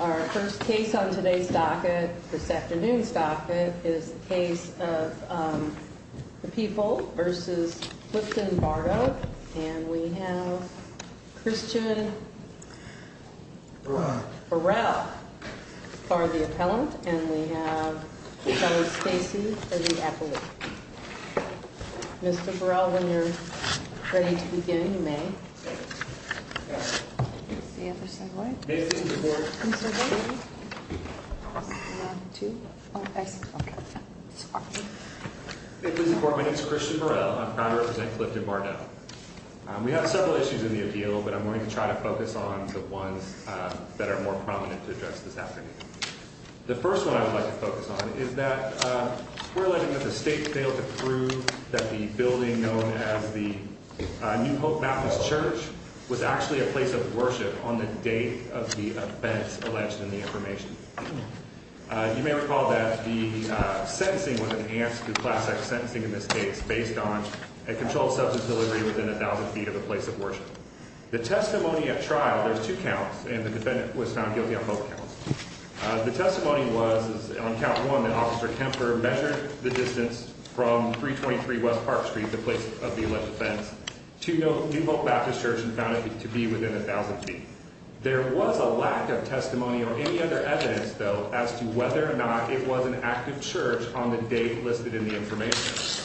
Our first case on today's docket, this afternoon's docket, is the case of the People v. Clifton Bardo and we have Christian Burrell for the Appeal. We have several issues in the Appeal but I'm going to try to focus on the ones that are more prominent to address this afternoon. The first one I would like to focus on is that we're alleging that the state failed to prove that the building known as the New Hope Baptist Church was in fact the building that was alleged in the information. You may recall that the sentencing was enhanced through class X sentencing in this case based on a controlled substance delivery within a thousand feet of the place of worship. The testimony at trial, there's two counts, and the defendant was found guilty on both counts. The testimony was on count one that Officer Kemper measured the distance from 323 West Park Street, the place of the alleged offense, to New Hope Baptist Church and found it to be within a thousand feet. There was a lack of testimony or any other evidence, though, as to whether or not it was an active church on the date listed in the information.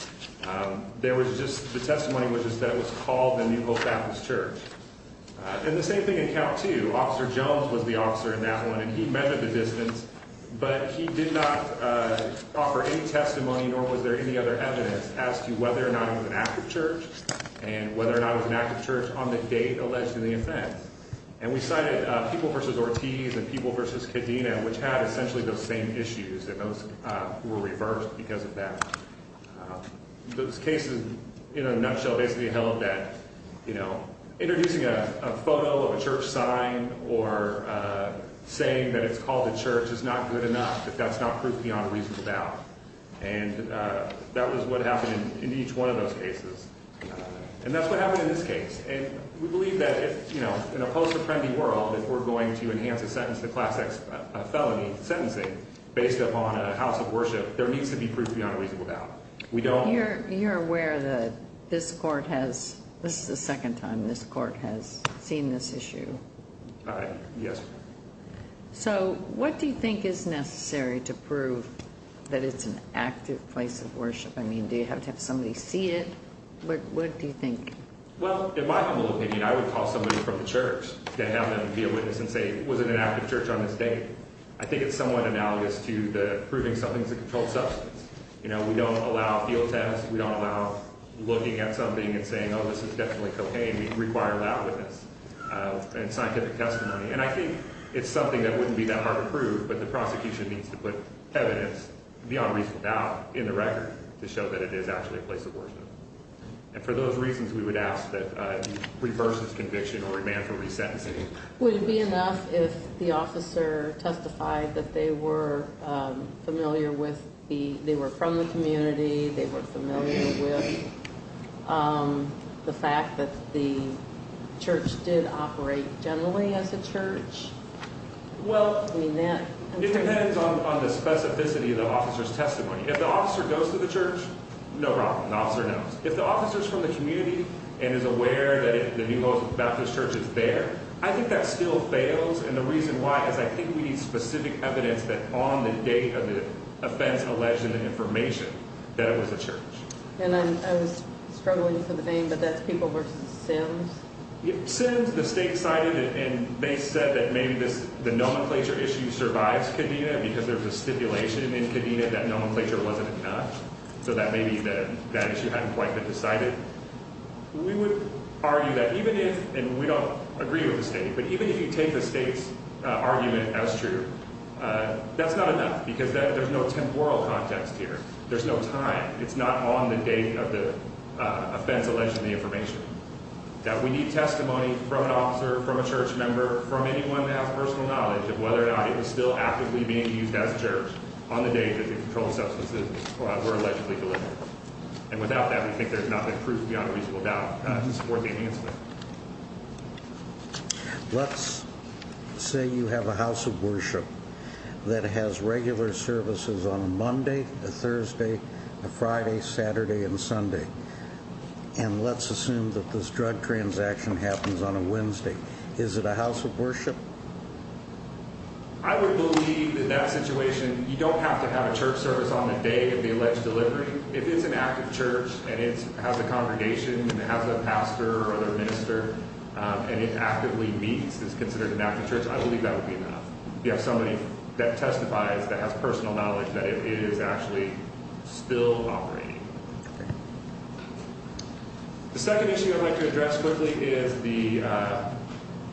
There was just the testimony was just that it was called the New Hope Baptist Church. And the same thing in count two, Officer Jones was the officer in that one and he measured the distance but he did not offer any testimony nor was there any other evidence as to whether or not it was an active church and whether or not it was an active church on the date alleged to the offense. And we cited People v. Ortiz and People v. Cadena, which had essentially those same issues and those were reversed because of that. Those cases, in a nutshell, basically held that, you know, introducing a photo of a church sign or saying that it's called a church is not good enough, that that's not proof beyond a reasonable doubt. And that was what happened in each one of those cases. And that's what happened in this case. And we believe that if, you know, in a post-apprendee world, if we're going to enhance a sentence to class X felony sentencing based upon a house of worship, there needs to be proof beyond a reasonable doubt. We don't... You're aware that this court has, this is the second time this court has seen this issue? Yes. So what do you think is necessary to prove that it's an active place of worship? I mean, do you have to have somebody see it? What do you think? Well, in my humble opinion, I would call somebody from the church to have them be a witness and say, was it an active church on this date? I think it's somewhat analogous to the proving something's a controlled substance. You know, we don't allow field tests. We don't allow looking at something and saying, oh, this is definitely cocaine. We require a lab witness and scientific testimony. And I think it's something that wouldn't be that hard to prove, but the prosecution needs to put evidence beyond reasonable doubt in the record to show that it is actually a place of worship. And for those reasons, we would ask that you reverse this conviction or remand for resentencing. Would it be enough if the officer testified that they were familiar with the, they were from the community, they were familiar with the fact that the church did operate generally as a church? Well, I mean that... It depends on the specificity of the officer's testimony. If the officer goes to the church, no problem. The officer knows. If the officer's from the community and is aware that the New Moses Baptist Church is there, I think that still fails. And the reason why is I think we need specific evidence that on the date of the offense alleged in the information that it was a church. And I was struggling for the name, but that's people versus sins? Sins, the state cited, and they said that maybe this, the nomenclature issue survives Kadena because there's a stipulation in Kadena that nomenclature wasn't enough, so that maybe that issue hadn't quite been decided. We would argue that even if, and we don't agree with the state, but even if you take the state's argument as true, that's not enough because there's no temporal context here. There's no time. It's not on the date of the offense alleged in the information that we need testimony from an officer, from a church member, from anyone that has personal knowledge of whether or not it was still actively being used as a church on the day that the controlled substances were allegedly delivered. And without that, we think there's not been proof beyond a reasonable doubt to support the enhancement. Let's say you have a house of worship that has regular services on a Monday, a Thursday, a Friday, Saturday, and Sunday. And let's assume that this drug transaction happens on a Wednesday. Is it a house of worship? I would believe that that situation, you don't have to have a church service on the day of the alleged delivery. If it's an active church and it has a congregation and it has a pastor or other minister and it actively meets, it's considered an active church, I believe that would be enough. You have somebody that testifies, that has personal knowledge that it is actually still operating. The second issue I'd like to address quickly is the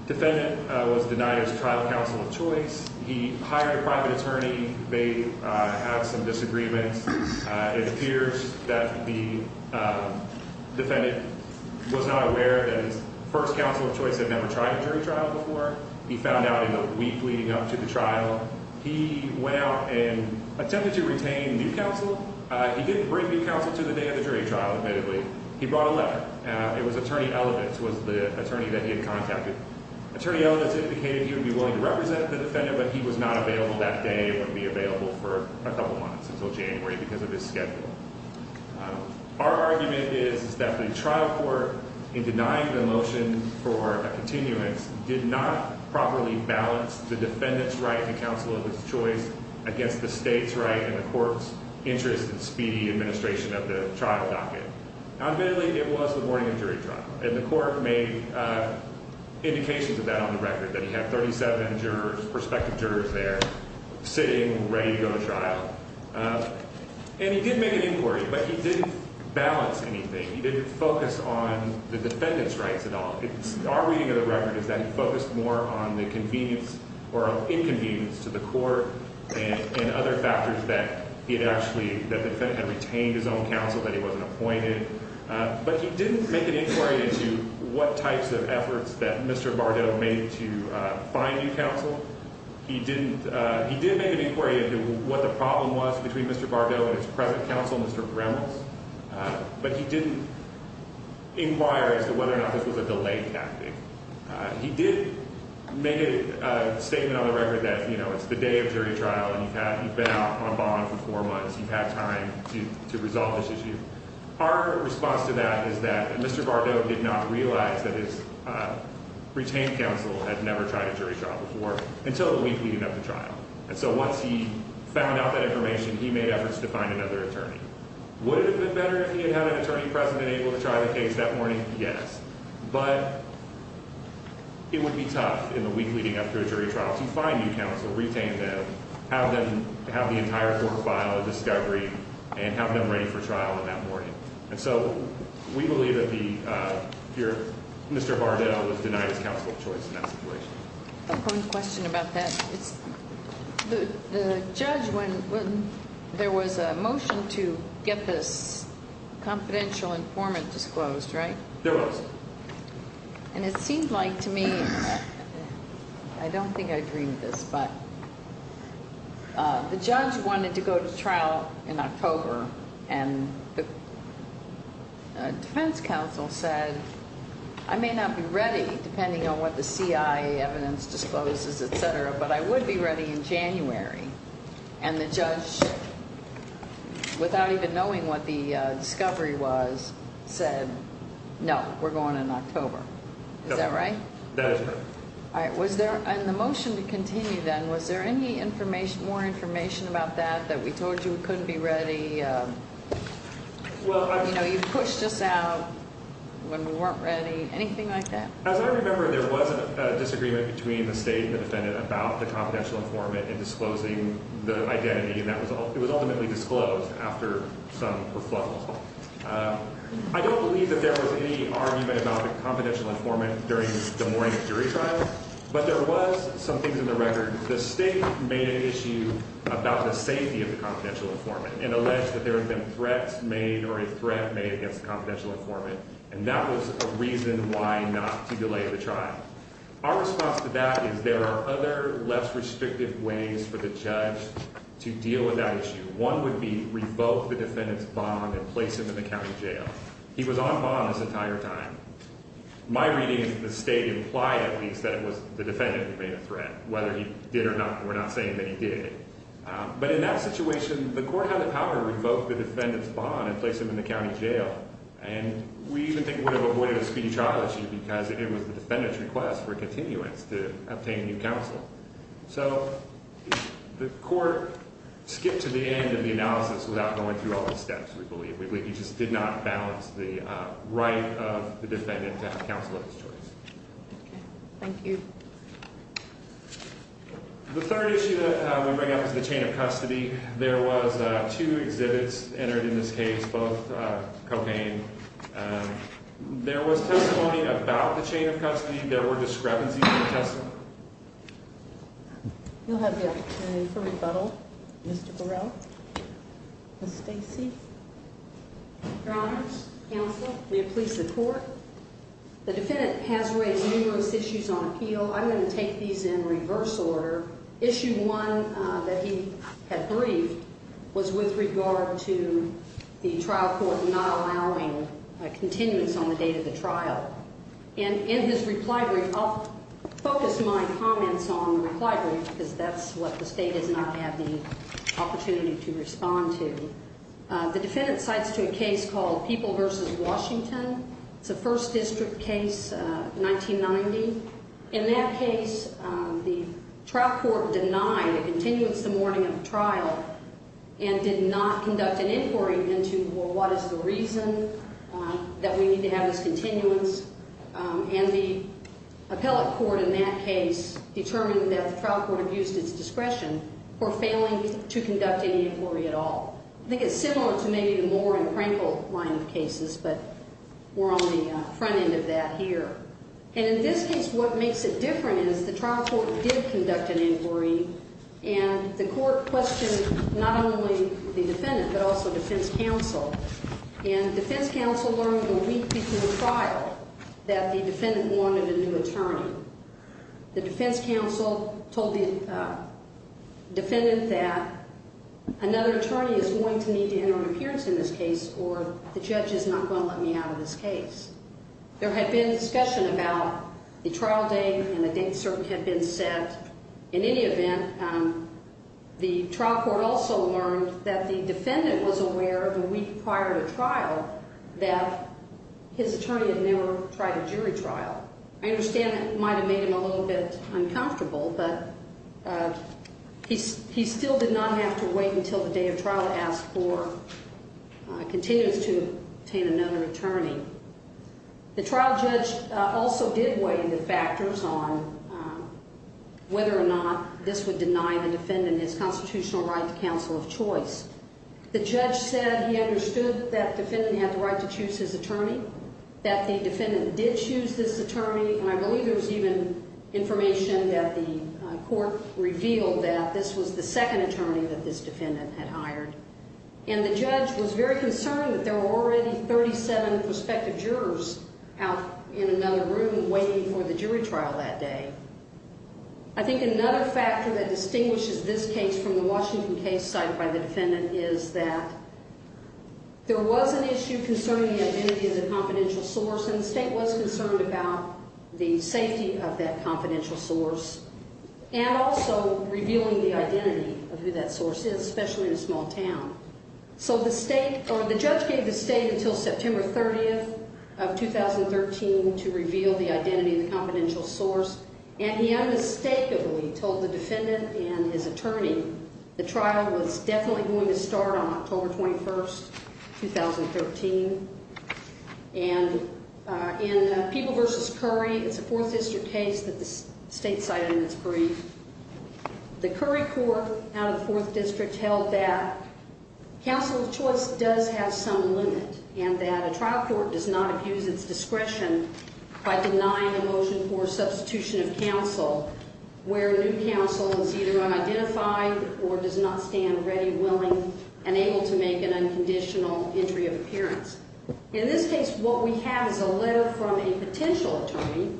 defendant was denied his trial counsel of choice. He hired a private attorney. They have some disagreements. It appears that the defendant was not aware that his first counsel of choice had never tried a jury trial before. He found out in the week leading up to the trial. He went out and attempted to retain new counsel. He didn't bring new counsel to the day of the jury trial, admittedly. He brought a letter. It was Attorney Elevitz who was the attorney that he had contacted. Attorney Elevitz indicated he would be willing to represent the defendant, but he was not available that day. He wouldn't be available for a couple months, until January, because of his schedule. Our argument is that the trial court, in denying the motion for a continuance, did not properly balance the defendant's right to counsel of his choice against the state's right and the court's interest in speedy administration of the trial docket. Admittedly, it was the morning of jury trial. The court made indications of that on the record, that he had 37 jurors, prospective jurors there, sitting, ready to go to trial. He did make an inquiry, but he didn't balance anything. He didn't focus on the defendant's record, is that he focused more on the inconvenience to the court, and other factors that the defendant had retained his own counsel, that he wasn't appointed. But he didn't make an inquiry into what types of efforts that Mr. Bardot made to find new counsel. He did make an inquiry into what the problem was between Mr. Bardot and his present counsel, Mr. Gremlins, but he didn't inquire as to whether or not this was a delay tactic. He did make a statement on the record that, you know, it's the day of jury trial, and you've been out on bond for four months, you've had time to resolve this issue. Our response to that is that Mr. Bardot did not realize that his retained counsel had never tried a jury trial before, until the week leading up to trial. And so once he found out that information, he made efforts to find another attorney. Would it have been better if he had had an attorney present and able to try the case that morning? Yes. But it would be tough, in the week leading up to a jury trial, to find new counsel, retain them, have them have the entire court file a discovery, and have them ready for trial on that morning. And so we believe that Mr. Bardot was denied his counsel of choice in that situation. One question about that. The judge, when there was a motion to get this confidential informant disclosed, right? There was. And it seemed like to me, I don't think I dreamed this, but the judge wanted to go to trial in October, and the defense counsel said, I may not be ready by evidence discloses, etc., but I would be ready in January. And the judge, without even knowing what the discovery was, said, no, we're going in October. Is that right? That is correct. And the motion to continue then, was there any more information about that, that we told you we couldn't be ready? You know, you pushed us out when we weren't ready, anything like that? As I remember, there was a disagreement between the state and the defendant about the confidential informant and disclosing the identity, and that was ultimately disclosed after some reflections. I don't believe that there was any argument about the confidential informant during the morning of jury trial, but there was some things in the record. The state made an issue about the safety of the confidential informant and alleged that there had been threats made or a threat made against the confidential informant, and that was a reason why not to delay the trial. Our response to that is there are other, less restrictive ways for the judge to deal with that issue. One would be revoke the defendant's bond and place him in the county jail. He was on bond this entire time. My reading is that the state implied, at least, that it was the defendant who made a threat, whether he did or not, we're not saying that he did. But in that situation, the court had the power to revoke the defendant's bond and place him in the county jail, and we even think would have avoided a speedy trial issue because it was the defendant's request for continuance to obtain new counsel. So the court skipped to the end of the analysis without going through all the steps, we believe. We just did not balance the right of the defendant to have counsel of his choice. Thank you. The third issue that we bring up is the chain of custody. There was two exhibits entered in this case, both cocaine. There was testimony about the chain of custody. There were discrepancies in the testimony. You'll have the opportunity for rebuttal, Mr. Burrell. Ms. Stacy. Your Honors, counsel, may it please the court. The defendant has raised numerous issues on appeal. I'm going to take these in reverse order. Issue one that he had briefed was with regard to the trial court not allowing continuance on the date of the trial. And in his reply brief, I'll focus my comments on the reply brief because that's what the state has not had the opportunity to respond to. The defendant cites to a case called People v. Washington. It's a first district case, 1990. In that case, the trial court denied the continuance the morning of the trial and did not conduct an inquiry into, well, what is the reason that we need to have this continuance? And the appellate court in that case determined that the trial court abused its discretion for failing to conduct any inquiry at all. I think it's similar to maybe the Moore and Sons case. What happened is the trial court did conduct an inquiry and the court questioned not only the defendant but also defense counsel. And defense counsel learned the week before the trial that the defendant wanted a new attorney. The defense counsel told the defendant that another attorney is going to need to enter an appearance in this case or the judge is not going to let me out of this case. There had been discussion about the trial date and the date certainly had been set. In any event, the trial court also learned that the defendant was aware of the week prior to trial that his attorney had never tried a jury trial. I understand it might have made him a little bit uncomfortable, but he still did not have to wait until the day of trial to ask for continuance to obtain another attorney. The judge did not know whether or not this would deny the defendant his constitutional right to counsel of choice. The judge said he understood that the defendant had the right to choose his attorney, that the defendant did choose this attorney, and I believe there was even information that the court revealed that this was the second attorney that this defendant had hired. And the judge was very concerned that there were already 37 prospective jurors out in another room waiting for the jury trial that day. I think another factor that distinguishes this case from the Washington case cited by the defendant is that there was an issue concerning the identity of the confidential source and the state was concerned about the safety of that confidential source and also revealing the identity of who that source is, especially in a small town. So the state or the judge gave the state until September 30th of 2013 to reveal the identity of the confidential source, and he unmistakably told the defendant and his attorney the trial was definitely going to start on October 21st, 2013. And in People v. Curry, it's a 4th District case that the state cited in its brief, the Curry court out of the 4th District held that counsel of choice does have some limit and that a trial court does not abuse its discretion by denying a motion for substitution of counsel where new counsel is either unidentified or does not stand ready, willing, and able to make an unconditional entry of appearance. In this case, what we have is a letter from a potential attorney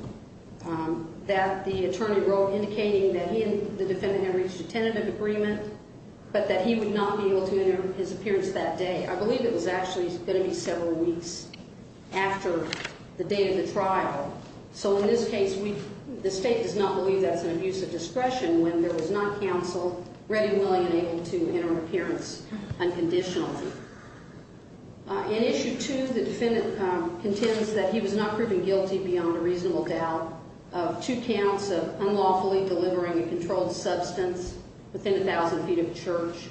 that the attorney wrote indicating that he and the defendant had reached a tentative agreement, but that he would not be able to enter his appearance that day. I believe it was actually going to be several weeks after the date of the trial. So in this case, the state does not believe that's an abuse of discretion when there was non-counsel ready, willing, and able to enter an appearance unconditionally. In Issue 2, the defendant contends that he was not proven guilty beyond a reasonable doubt of two counts of unlawfully delivering a controlled substance within a thousand feet of a church.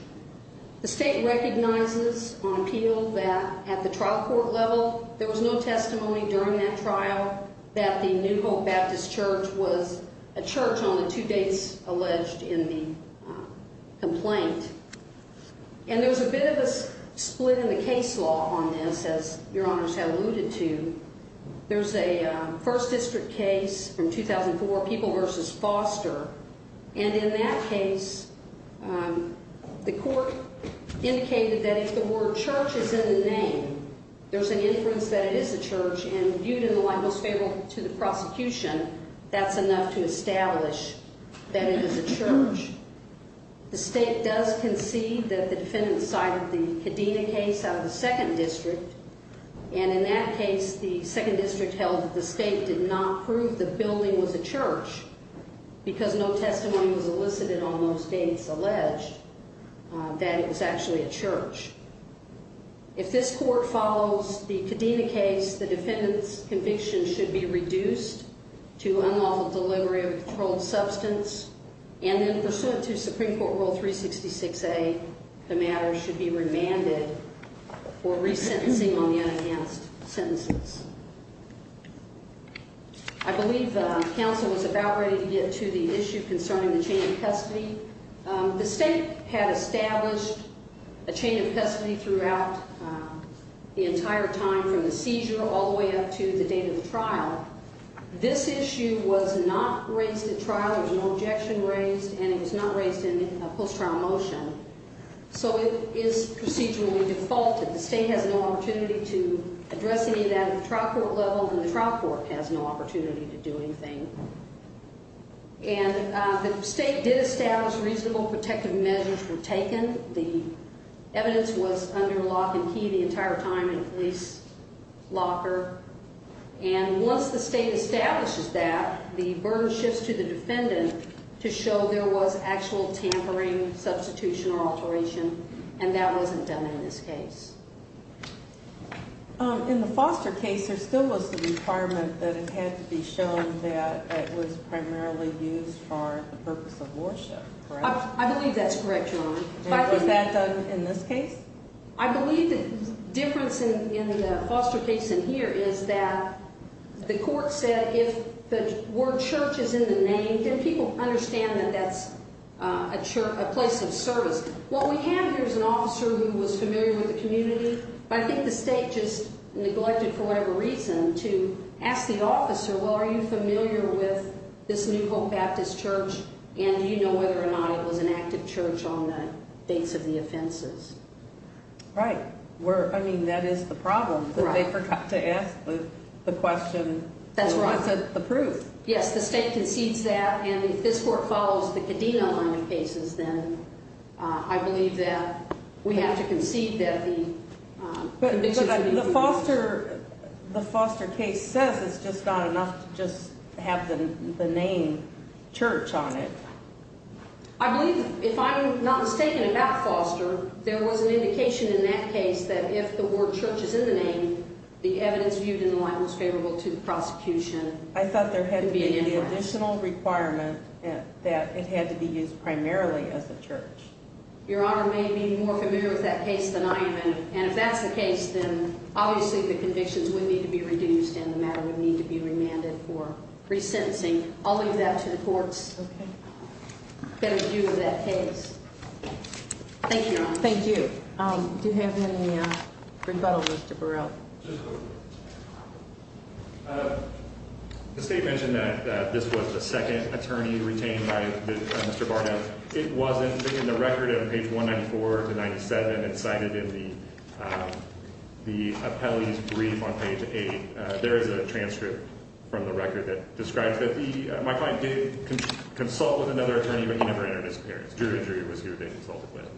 The state recognizes on appeal that at the trial court level, there was no testimony during that trial that the New Hope Baptist Church was a church on the two dates alleged in the complaint. And there was a bit of a split in the case law on this, as Your Honors have alluded to. There's a first district case from 2004, People v. Foster, and in that case, the court indicated that if the word church is in the name, there's an inference that it is a church, and viewed in the light most favorable to the prosecution, that's enough to establish that it is a church. The state does concede that the defendant cited the Kadena case out of the second district, and in that case, the second district held that the state did not prove the building was a church, because no testimony was elicited on those dates alleged that it was actually a church. If this court follows the Kadena case, the defendant's conviction should be reduced to unlawful delivery of a controlled substance, and then pursuant to Supreme Court Rule 366A, the matter should be remanded for resentencing on the unenhanced sentences. I believe counsel was about ready to get to the issue concerning the chain of custody. The state had established a chain of custody throughout the entire time from the seizure all the way up to the date of the trial. This issue was not raised at trial, there was no post-trial motion, so it is procedurally defaulted. The state has no opportunity to address any of that at the trial court level, and the trial court has no opportunity to do anything. And the state did establish reasonable protective measures were taken. The evidence was under lock and key the entire time in a police locker, and once the state establishes that, the burden shifts to the defendant to show there was actual tampering, substitution, or alteration, and that wasn't done in this case. In the Foster case, there still was the requirement that it had to be shown that it was primarily used for the purpose of worship, correct? I believe that's correct, Your Honor. And was that done in this case? I believe the difference in the Foster case and here is that the court said if the word church is in the name, then people understand that that's a place of service. What we have here is an officer who was familiar with the community, but I think the state just neglected for whatever reason to ask the officer, well, are you familiar with this New Hope Baptist Church, and do you know whether or not it was an active church on the dates of the offenses? Right. I mean, that is the problem, that they forgot to ask the question. That's right. What's the proof? Yes, the state concedes that, and if this court follows the Kadena line of cases, then I believe that we have to concede that the convictions are being fulfilled. The Foster case says it's just not enough to just have the name church on it. I believe, if I'm not mistaken about Foster, there was an indication in that case that if the word church is in the name, the evidence viewed in the light was favorable to the prosecution. I thought there had to be the additional requirement that it had to be used primarily as a church. Your Honor, I may be more familiar with that case than I am, and if that's the case, then obviously the convictions would need to be reduced and the matter would need to be remanded for resentencing. I'll leave that to the courts. Okay. Thank you, Your Honor. Thank you. Do you have any rebuttal, Mr. Burrell? Just a quick one. The state mentioned that this was the second attorney retained by Mr. Barnett. It wasn't in the record on page 194 to 97. It's cited in the appellee's brief on page 8. There is a transcript from the record that describes that my client did consult with another attorney, but he never entered his appearance. Drew was who they consulted with.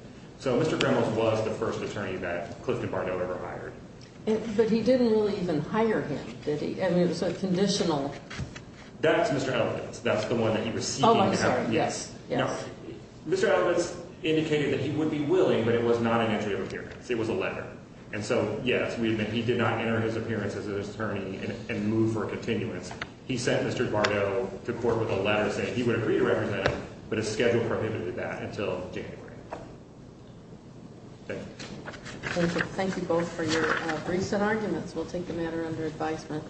So Mr. Grimles was the first attorney that Clifton Barnett ever hired. But he didn't really even hire him, did he? I mean, it was a conditional... Oh, I'm sorry. Yes, yes. No. Mr. Albence indicated that he would be willing, but it was not an entry of appearance. It was a letter. And so, yes, we admit he did not enter his appearance as an attorney and move for a continuance. He sent Mr. Bardot to court with a letter saying he would agree to represent him, but his schedule prohibited that until January. Thank you. Thank you. Thank you both for your briefs and arguments. We'll take the matter under advisement.